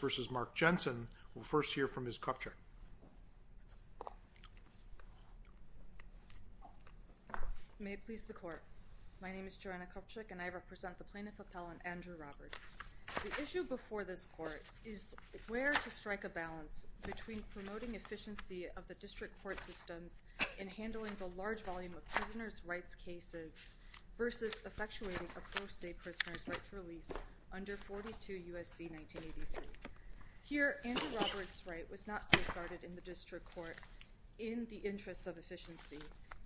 will first hear from Ms. Kupchick. May it please the Court. My name is Joanna Kupchick and I represent the Plaintiff Appellant Andrew Roberts. The issue before this Court is where to strike a balance between promoting efficiency of the district court systems in handling the large volume of prisoners' rights cases versus effectuating a pro se prisoners' rights relief under 42 U.S.C. 1983. Here Andrew Roberts' right was not safeguarded in the district court in the interest of efficiency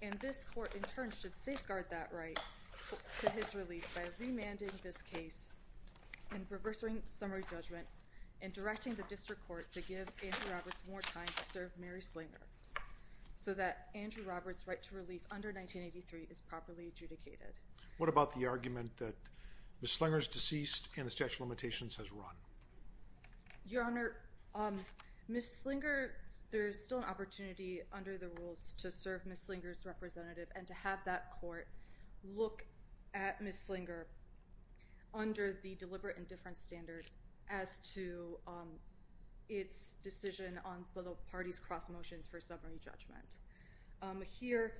and this Court in turn should safeguard that right to his relief by remanding this case and reversing summary judgment and directing the district court to give Andrew Roberts more time to serve Mary Slinger so that Andrew Roberts' right to relief under 1983 is properly adjudicated. What about the argument that Ms. Slinger is deceased and the statute of limitations has run? Your Honor, Ms. Slinger, there is still an opportunity under the rules to serve Ms. Slinger's representative and to have that Court look at Ms. Slinger under the deliberate indifference standard as to its decision on the parties' cross motions for summary judgment. Here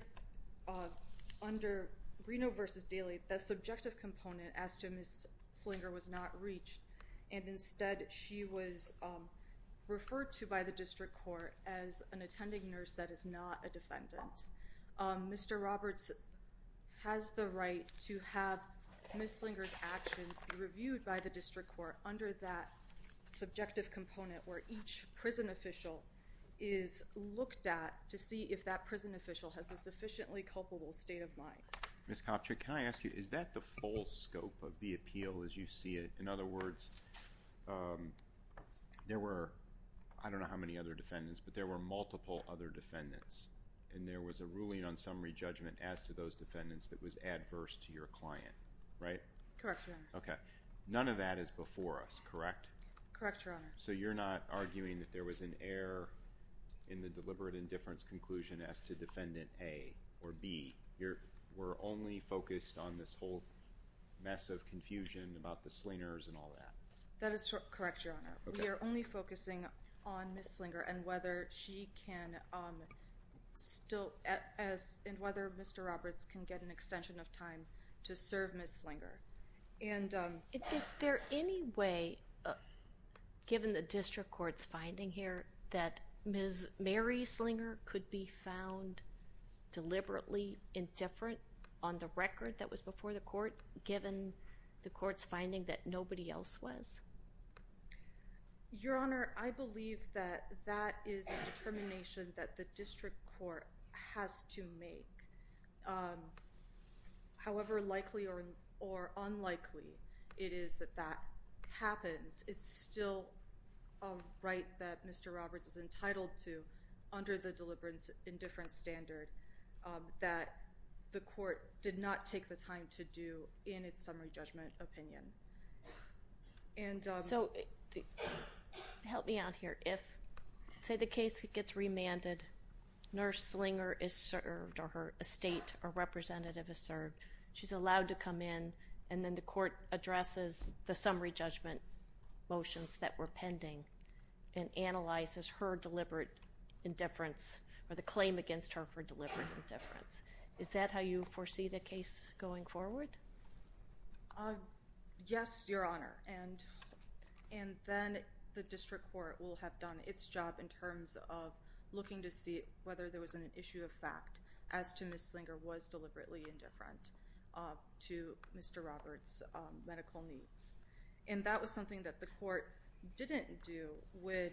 under Greeno v. Daly, the subjective component as to Ms. Slinger was not reached and instead she was referred to by the district court as an attending nurse that is not a defendant. Mr. Roberts has the right to have Ms. Slinger's actions reviewed by the district court under that subjective component where each prison official is looked at to see if that prison official has a sufficiently culpable state of mind. Ms. Kopchick, can I ask you, is that the full scope of the appeal as you see it? In other words, there were, I don't know how many other defendants, but there were multiple other defendants and there was a ruling on summary judgment as to those defendants that was adverse to your client, right? Correct, Your Honor. Okay, none of that is before us, correct? Correct, Your Honor. So you're not arguing that there was an error in the deliberate indifference conclusion as to Defendant A or B? We're only focused on this whole mess of confusion about the Slingers and all that? That is correct, Your Honor. We are only focusing on Ms. Slinger and whether she can still, and whether Mr. Roberts can get an extension of time to serve Ms. Slinger. Is there any way, given the district court's finding here, that Ms. Mary Slinger could be found deliberately indifferent on the record that was before the court, given the court's finding that nobody else was? Your Honor, I believe that that is a determination that the district court has to make. However likely or unlikely it is that that happens, it's still a right that Mr. Roberts is entitled to under the deliberate indifference standard that the court did not take the time to do in its summary judgment opinion. So help me out here. If, say, the case gets remanded, Nurse Slinger is served or her estate or representative is served, she's allowed to come in and then the court addresses the summary judgment motions that were pending and analyzes her deliberate indifference or the claim against her for deliberate indifference. Is that how you foresee the case going forward? Yes, Your Honor. And then the district court will have done its job in terms of looking to see whether there was an issue of fact as to Ms. Slinger was deliberately indifferent to Mr. Roberts' medical needs. And that was something that the court didn't do when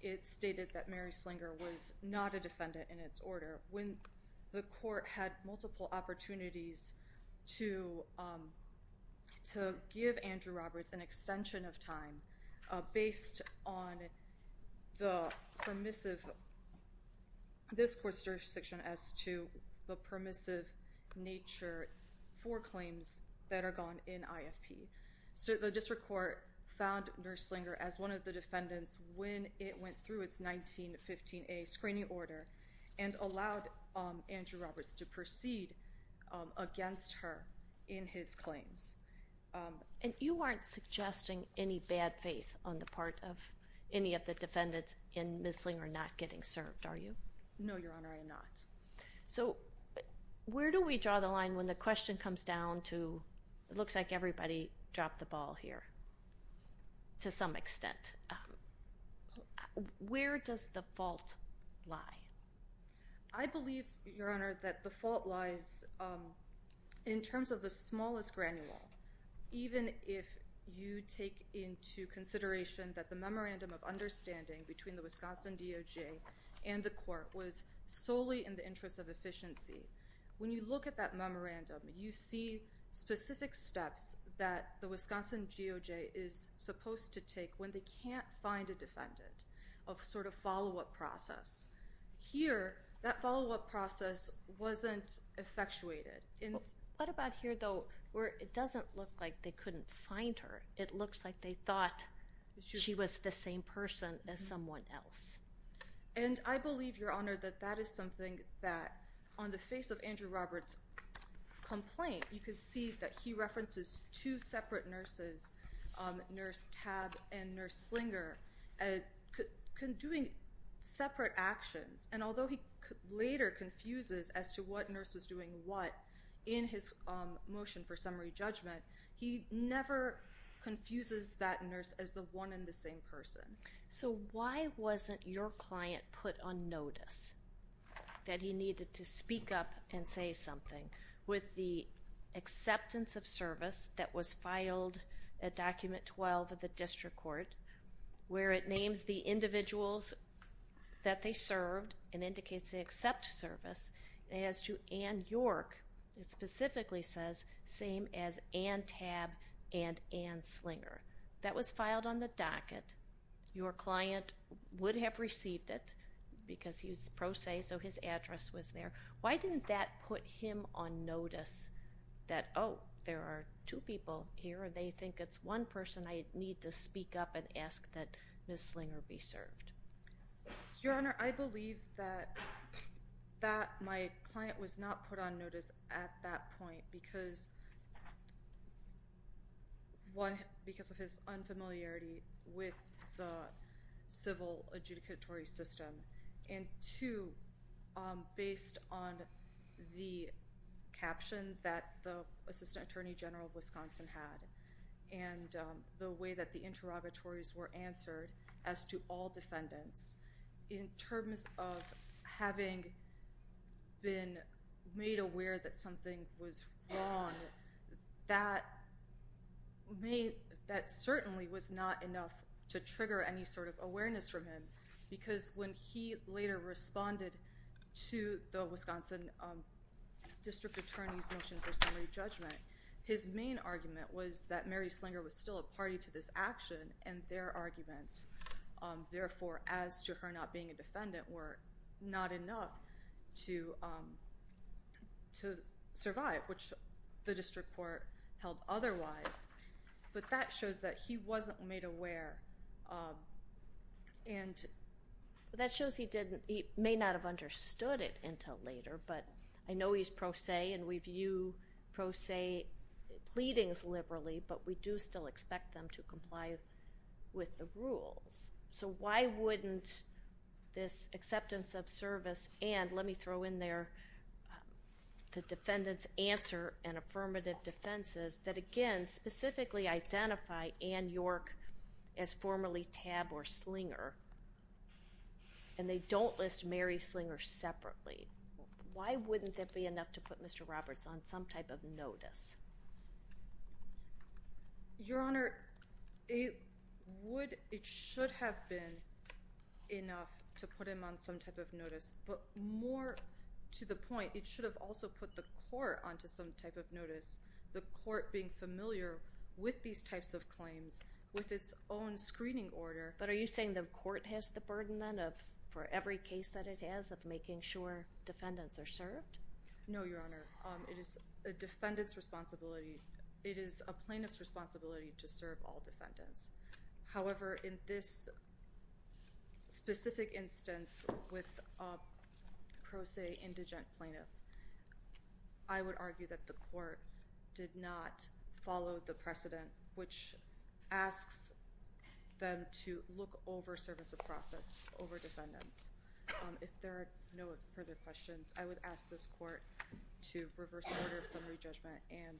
it stated that Mary Slinger was not a defendant in its order. When the court had multiple opportunities to give Andrew Roberts an extension of time based on this court's jurisdiction as to the permissive nature for claims that are gone in IFP. So the district court found Nurse Slinger as one of the defendants when it went through its 1915A screening order and allowed Andrew Roberts to proceed against her in his claims. And you aren't suggesting any bad faith on the part of any of the defendants in Ms. Slinger not getting served, are you? No, Your Honor, I am not. So where do we draw the line when the question comes down to, it looks like everybody dropped the ball here to some extent. Where does the fault lie? I believe, Your Honor, that the fault lies in terms of the smallest granule, even if you take into consideration that the memorandum of understanding between the Wisconsin DOJ and the court was solely in the interest of efficiency. When you look at that memorandum, you see specific steps that the Wisconsin DOJ is supposed to take when they can't find a defendant of sort of follow-up process. Here, that follow-up process wasn't effectuated. What about here, though, where it doesn't look like they couldn't find her? It looks like they thought she was the same person as someone else. And I believe, Your Honor, that that is something that on the face of Andrew Roberts' complaint, you can see that he references two separate nurses, Nurse Tabb and Nurse Slinger, doing separate actions. And although he later confuses as to what nurse was doing what in his motion for summary judgment, he never confuses that nurse as the one and the same person. So why wasn't your client put on notice that he needed to speak up and say something? With the acceptance of service that was filed at Document 12 of the district court, where it names the individuals that they served and indicates they accept service, as to Ann York, it specifically says, same as Ann Tabb and Ann Slinger. That was filed on the docket. Your client would have received it because he was pro se, so his address was there. Why didn't that put him on notice that, oh, there are two people here, and they think it's one person I need to speak up and ask that Miss Slinger be served? Your Honor, I believe that my client was not put on notice at that point because, one, because of his unfamiliarity with the civil adjudicatory system, and, two, based on the caption that the Assistant Attorney General of Wisconsin had and the way that the interrogatories were answered as to all defendants, in terms of having been made aware that something was wrong, that certainly was not enough to trigger any sort of awareness from him because when he later responded to the Wisconsin District Attorney's motion for summary judgment, his main argument was that Mary Slinger was still a party to this action and their arguments. Therefore, as to her not being a defendant were not enough to survive, which the district court held otherwise. But that shows that he wasn't made aware. That shows he may not have understood it until later, but I know he's pro se and we view pro se pleadings liberally, but we do still expect them to comply with the rules. So why wouldn't this acceptance of service and let me throw in there the defendant's answer and affirmative defenses that, again, specifically identify Ann York as formerly Tabb or Slinger and they don't list Mary Slinger separately. Why wouldn't that be enough to put Mr. Roberts on some type of notice? Your Honor, it should have been enough to put him on some type of notice, but more to the point, it should have also put the court onto some type of notice, the court being familiar with these types of claims with its own screening order. But are you saying the court has the burden then for every case that it has of making sure defendants are served? No, Your Honor. It is a defendant's responsibility. It is a plaintiff's responsibility to serve all defendants. However, in this specific instance with a pro se indigent plaintiff, I would argue that the court did not follow the precedent, which asks them to look over service of process, over defendants. If there are no further questions, I would ask this court to reverse order of summary judgment and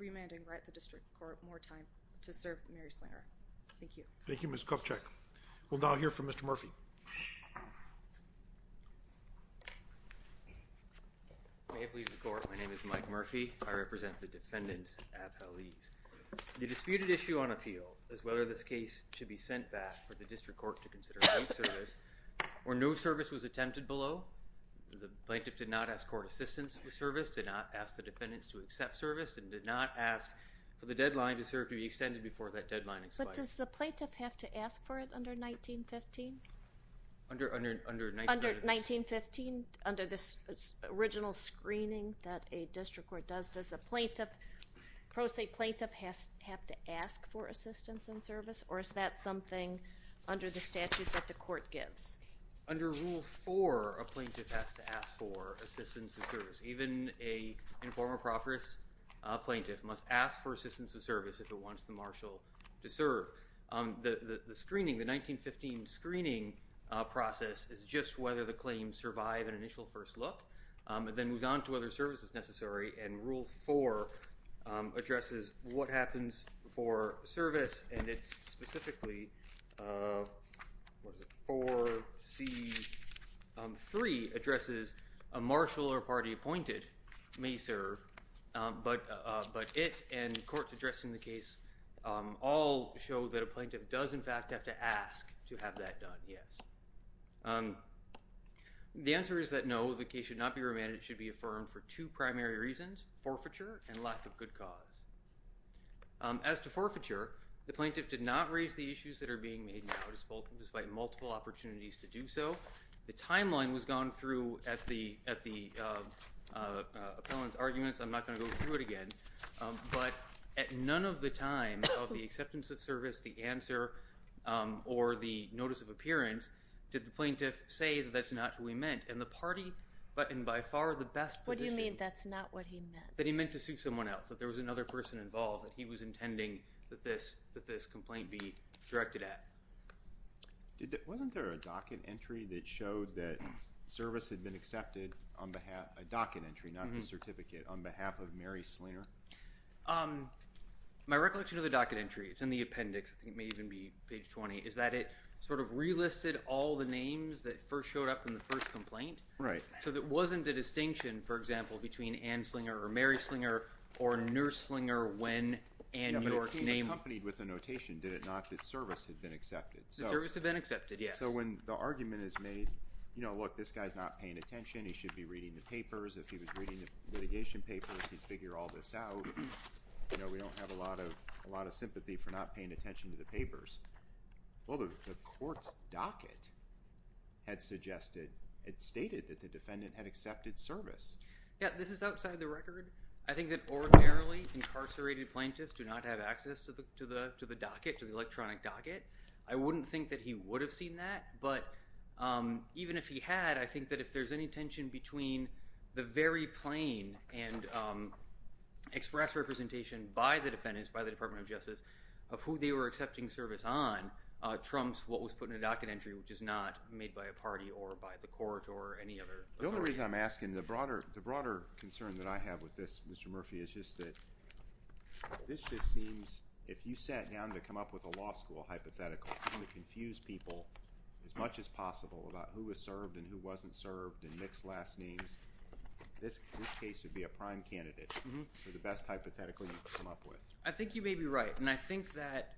remand and grant the district court more time to serve Mary Slinger. Thank you. Thank you, Ms. Kopchick. We'll now hear from Mr. Murphy. May it please the court, my name is Mike Murphy. I represent the defendants at Hallease. The disputed issue on appeal is whether this case should be sent back for the district court to consider out service, or no service was attempted below. The plaintiff did not ask court assistance with service, did not ask the defendants to accept service, and did not ask for the deadline to serve to be extended before that deadline expired. But does the plaintiff have to ask for it under 1915? Under 1915, under this original screening that a district court does, does the plaintiff, pro se plaintiff have to ask for assistance in service, or is that something under the statute that the court gives? Under Rule 4, a plaintiff has to ask for assistance in service. Even an informer proper's plaintiff must ask for assistance in service if it wants the marshal to serve. The screening, the 1915 screening process is just whether the claims survive an initial first look. It then moves on to whether service is necessary, and Rule 4 addresses what happens for service, and it's specifically 4C3 addresses a marshal or party appointed may serve, but it and courts addressing the case all show that a plaintiff does, in fact, have to ask to have that done, yes. The answer is that no, the case should not be remanded. It should be affirmed for two primary reasons, forfeiture and lack of good cause. As to forfeiture, the plaintiff did not raise the issues that are being made now, despite multiple opportunities to do so. The timeline was gone through at the appellant's arguments. I'm not going to go through it again. But at none of the time of the acceptance of service, the answer, or the notice of appearance did the plaintiff say that that's not who he meant, and the party, but in by far the best position. What do you mean that's not what he meant? That he meant to sue someone else, that there was another person involved, that he was intending that this complaint be directed at. Wasn't there a docket entry that showed that service had been accepted on behalf, a docket entry, not a certificate, on behalf of Mary Slinger? My recollection of the docket entry, it's in the appendix, I think it may even be page 20, is that it sort of relisted all the names that first showed up in the first complaint. Right. So it wasn't a distinction, for example, between Ann Slinger or Mary Slinger or Nurse Slinger when Ann York's name. Yeah, but it came accompanied with a notation, did it not, that service had been accepted. That service had been accepted, yes. So when the argument is made, you know, look, this guy's not paying attention, he should be reading the papers, if he was reading the litigation papers, he'd figure all this out. You know, we don't have a lot of sympathy for not paying attention to the papers. Well, the court's docket had suggested, it stated that the defendant had accepted service. Yeah, this is outside the record. I think that ordinarily incarcerated plaintiffs do not have access to the docket, to the electronic docket. I wouldn't think that he would have seen that, but even if he had, I think that if there's any tension between the very plain and express representation by the defendants, by the Department of Justice, of who they were accepting service on, trumps what was put in the docket entry, which is not made by a party or by the court or any other authority. The only reason I'm asking, the broader concern that I have with this, Mr. Murphy, is just that this just seems, if you sat down to come up with a law school hypothetical, trying to confuse people as much as possible about who was served and who wasn't served and mixed last names, this case would be a prime candidate for the best hypothetical you could come up with. I think you may be right, and I think that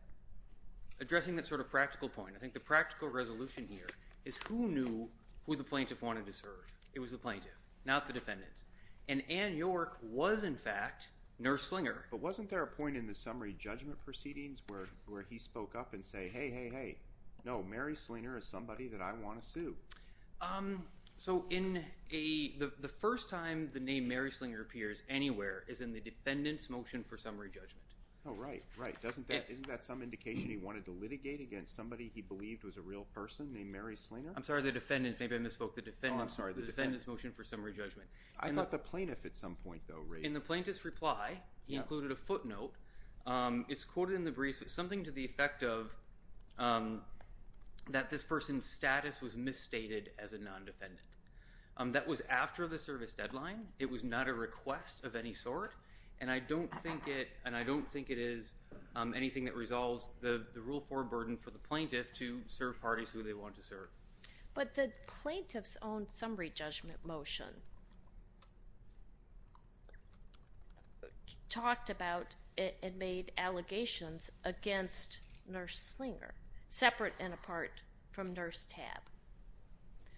addressing that sort of practical point, I think the practical resolution here is who knew who the plaintiff wanted to serve. It was the plaintiff, not the defendants. And Ann York was, in fact, Nurse Slinger. But wasn't there a point in the summary judgment proceedings where he spoke up and said, hey, hey, hey, no, Mary Slinger is somebody that I want to sue? So the first time the name Mary Slinger appears anywhere is in the defendant's motion for summary judgment. Oh, right, right. Isn't that some indication he wanted to litigate against somebody he believed was a real person named Mary Slinger? I'm sorry, the defendant. Maybe I misspoke. The defendant's motion for summary judgment. I thought the plaintiff at some point, though, raised it. In the plaintiff's reply, he included a footnote. It's quoted in the briefs as something to the effect of that this person's status was misstated as a non-defendant. That was after the service deadline. It was not a request of any sort, and I don't think it is anything that resolves the Rule 4 burden for the plaintiff to serve parties who they want to serve. But the plaintiff's own summary judgment motion talked about and made allegations against Nurse Slinger, separate and apart from Nurse Tabb.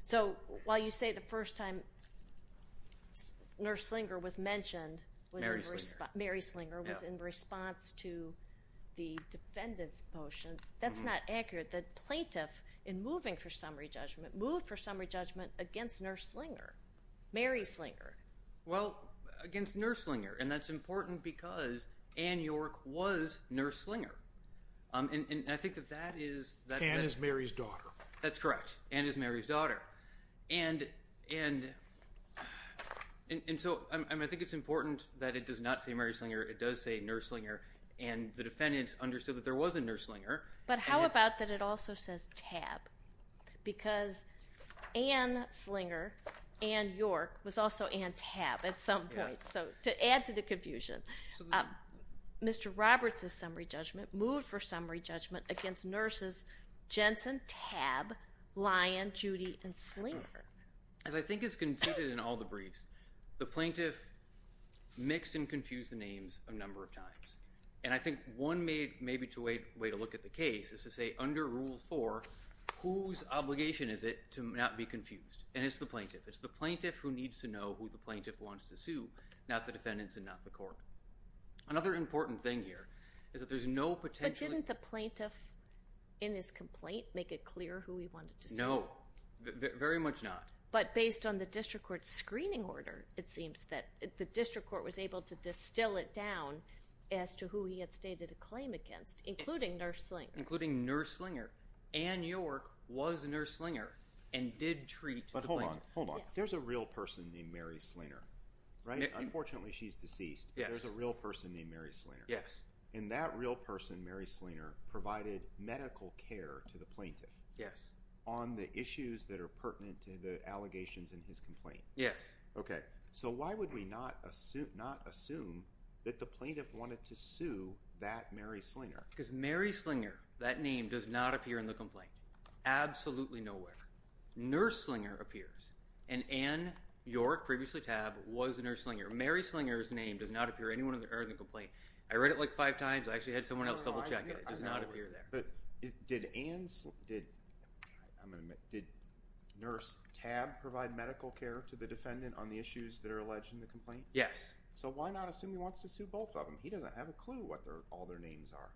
So while you say the first time Nurse Slinger was mentioned was in response to the defendant's motion, that's not accurate. The plaintiff, in moving for summary judgment, moved for summary judgment against Nurse Slinger, Mary Slinger. Well, against Nurse Slinger, and that's important because Ann York was Nurse Slinger. And I think that that is… Ann is Mary's daughter. That's correct. Ann is Mary's daughter. And so I think it's important that it does not say Mary Slinger. It does say Nurse Slinger, and the defendant understood that there was a Nurse Slinger. But how about that it also says Tabb? Because Ann Slinger, Ann York was also Ann Tabb at some point. So to add to the confusion, Mr. Roberts' summary judgment moved for summary judgment against Nurses Jensen, Tabb, Lyon, Judy, and Slinger. As I think is conceded in all the briefs, the plaintiff mixed and confused the names a number of times. And I think one maybe way to look at the case is to say under Rule 4, whose obligation is it to not be confused? And it's the plaintiff. It's the plaintiff who needs to know who the plaintiff wants to sue, not the defendants and not the court. Another important thing here is that there's no potential… But didn't the plaintiff in his complaint make it clear who he wanted to sue? No, very much not. But based on the district court screening order, it seems that the district court was able to distill it down as to who he had stated a claim against, including Nurse Slinger. Including Nurse Slinger. Ann York was Nurse Slinger and did treat the plaintiff. But hold on, hold on. There's a real person named Mary Slinger, right? Unfortunately, she's deceased, but there's a real person named Mary Slinger. Yes. And that real person, Mary Slinger, provided medical care to the plaintiff. Yes. On the issues that are pertinent to the allegations in his complaint. Yes. Okay. So why would we not assume that the plaintiff wanted to sue that Mary Slinger? Because Mary Slinger, that name does not appear in the complaint. Absolutely nowhere. Nurse Slinger appears. And Ann York, previously TAB, was Nurse Slinger. Mary Slinger's name does not appear anywhere in the complaint. I read it like five times. I actually had someone else double check it. It does not appear there. But did Nurse TAB provide medical care to the defendant on the issues that are alleged in the complaint? Yes. So why not assume he wants to sue both of them? He doesn't have a clue what all their names are.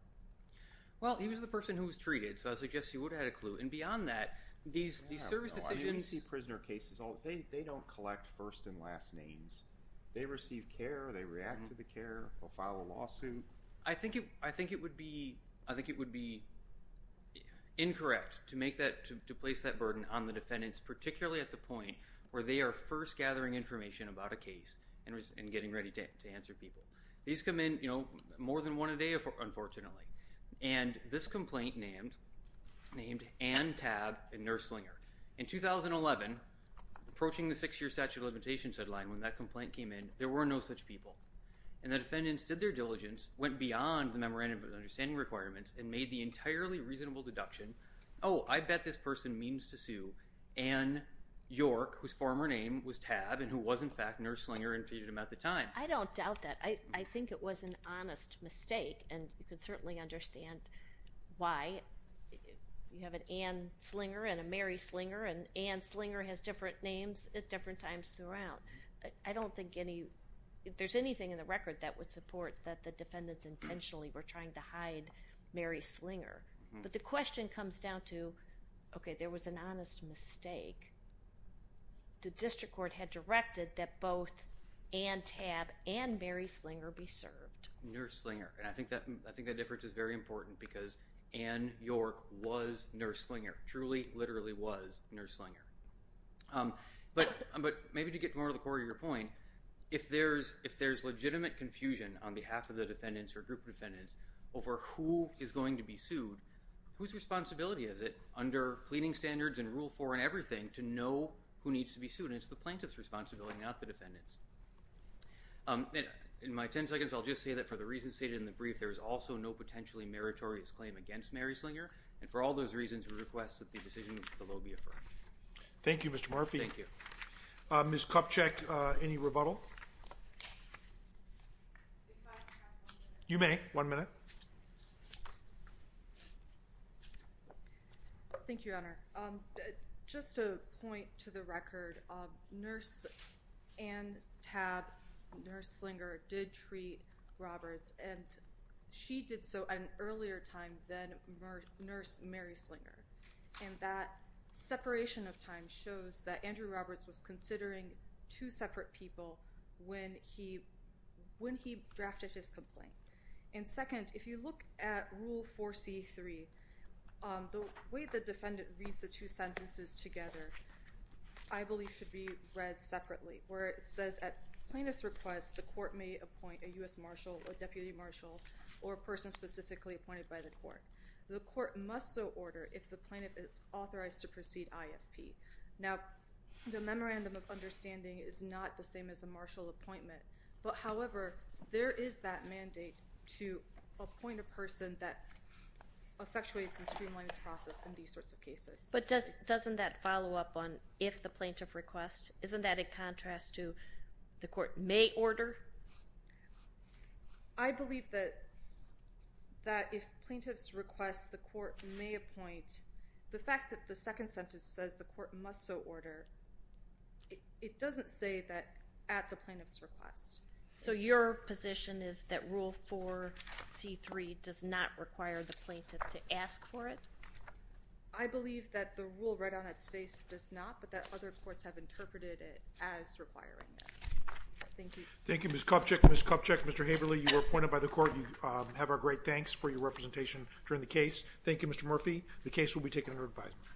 Well, he was the person who was treated, so I suggest he would have had a clue. And beyond that, these service decisions – I didn't see prisoner cases. They don't collect first and last names. They receive care. They react to the care. They'll file a lawsuit. I think it would be incorrect to place that burden on the defendants, particularly at the point where they are first gathering information about a case and getting ready to answer people. These come in more than one a day, unfortunately. And this complaint named Ann TAB and Nurse Slinger. In 2011, approaching the six-year statute of limitations deadline, when that complaint came in, there were no such people. And the defendants did their diligence, went beyond the memorandum of understanding requirements, and made the entirely reasonable deduction, oh, I bet this person means to sue Ann York, whose former name was TAB and who was, in fact, Nurse Slinger and treated him at the time. I don't doubt that. I think it was an honest mistake, and you can certainly understand why. You have an Ann Slinger and a Mary Slinger, and Ann Slinger has different names at different times throughout. I don't think there's anything in the record that would support that the defendants intentionally were trying to hide Mary Slinger. But the question comes down to, okay, there was an honest mistake. The district court had directed that both Ann TAB and Mary Slinger be served. Nurse Slinger. And I think that difference is very important because Ann York was Nurse Slinger, truly, literally was Nurse Slinger. But maybe to get more to the core of your point, if there's legitimate confusion on behalf of the defendants or group of defendants over who is going to be sued, whose responsibility is it under pleading standards and Rule 4 and everything to know who needs to be sued? And it's the plaintiff's responsibility, not the defendant's. In my 10 seconds, I'll just say that for the reasons stated in the brief, there is also no potentially meritorious claim against Mary Slinger, and for all those reasons we request that the decision below be affirmed. Thank you, Mr. Murphy. Thank you. Ms. Kupchak, any rebuttal? You may. One minute. Thank you, Your Honor. Just to point to the record, Nurse Ann TAB, Nurse Slinger, did treat Roberts, and she did so at an earlier time than Nurse Mary Slinger. And that separation of time shows that Andrew Roberts was considering two separate people when he drafted his complaint. And second, if you look at Rule 4C3, the way the defendant reads the two sentences together, I believe should be read separately, where it says, at plaintiff's request, the court may appoint a U.S. marshal, a deputy marshal, or a person specifically appointed by the court. The court must so order if the plaintiff is authorized to proceed IFP. Now, the memorandum of understanding is not the same as a marshal appointment, but, however, there is that mandate to appoint a person that effectuates and streamlines the process in these sorts of cases. But doesn't that follow up on if the plaintiff requests? Isn't that in contrast to the court may order? I believe that if plaintiff's request, the court may appoint. The fact that the second sentence says the court must so order, it doesn't say that at the plaintiff's request. So your position is that Rule 4C3 does not require the plaintiff to ask for it? I believe that the rule right on its face does not, but that other courts have interpreted it as requiring it. Thank you. Thank you, Ms. Kopchick. Ms. Kopchick, Mr. Haverly, you were appointed by the court. You have our great thanks for your representation during the case. Thank you, Mr. Murphy. The case will be taken under advisement.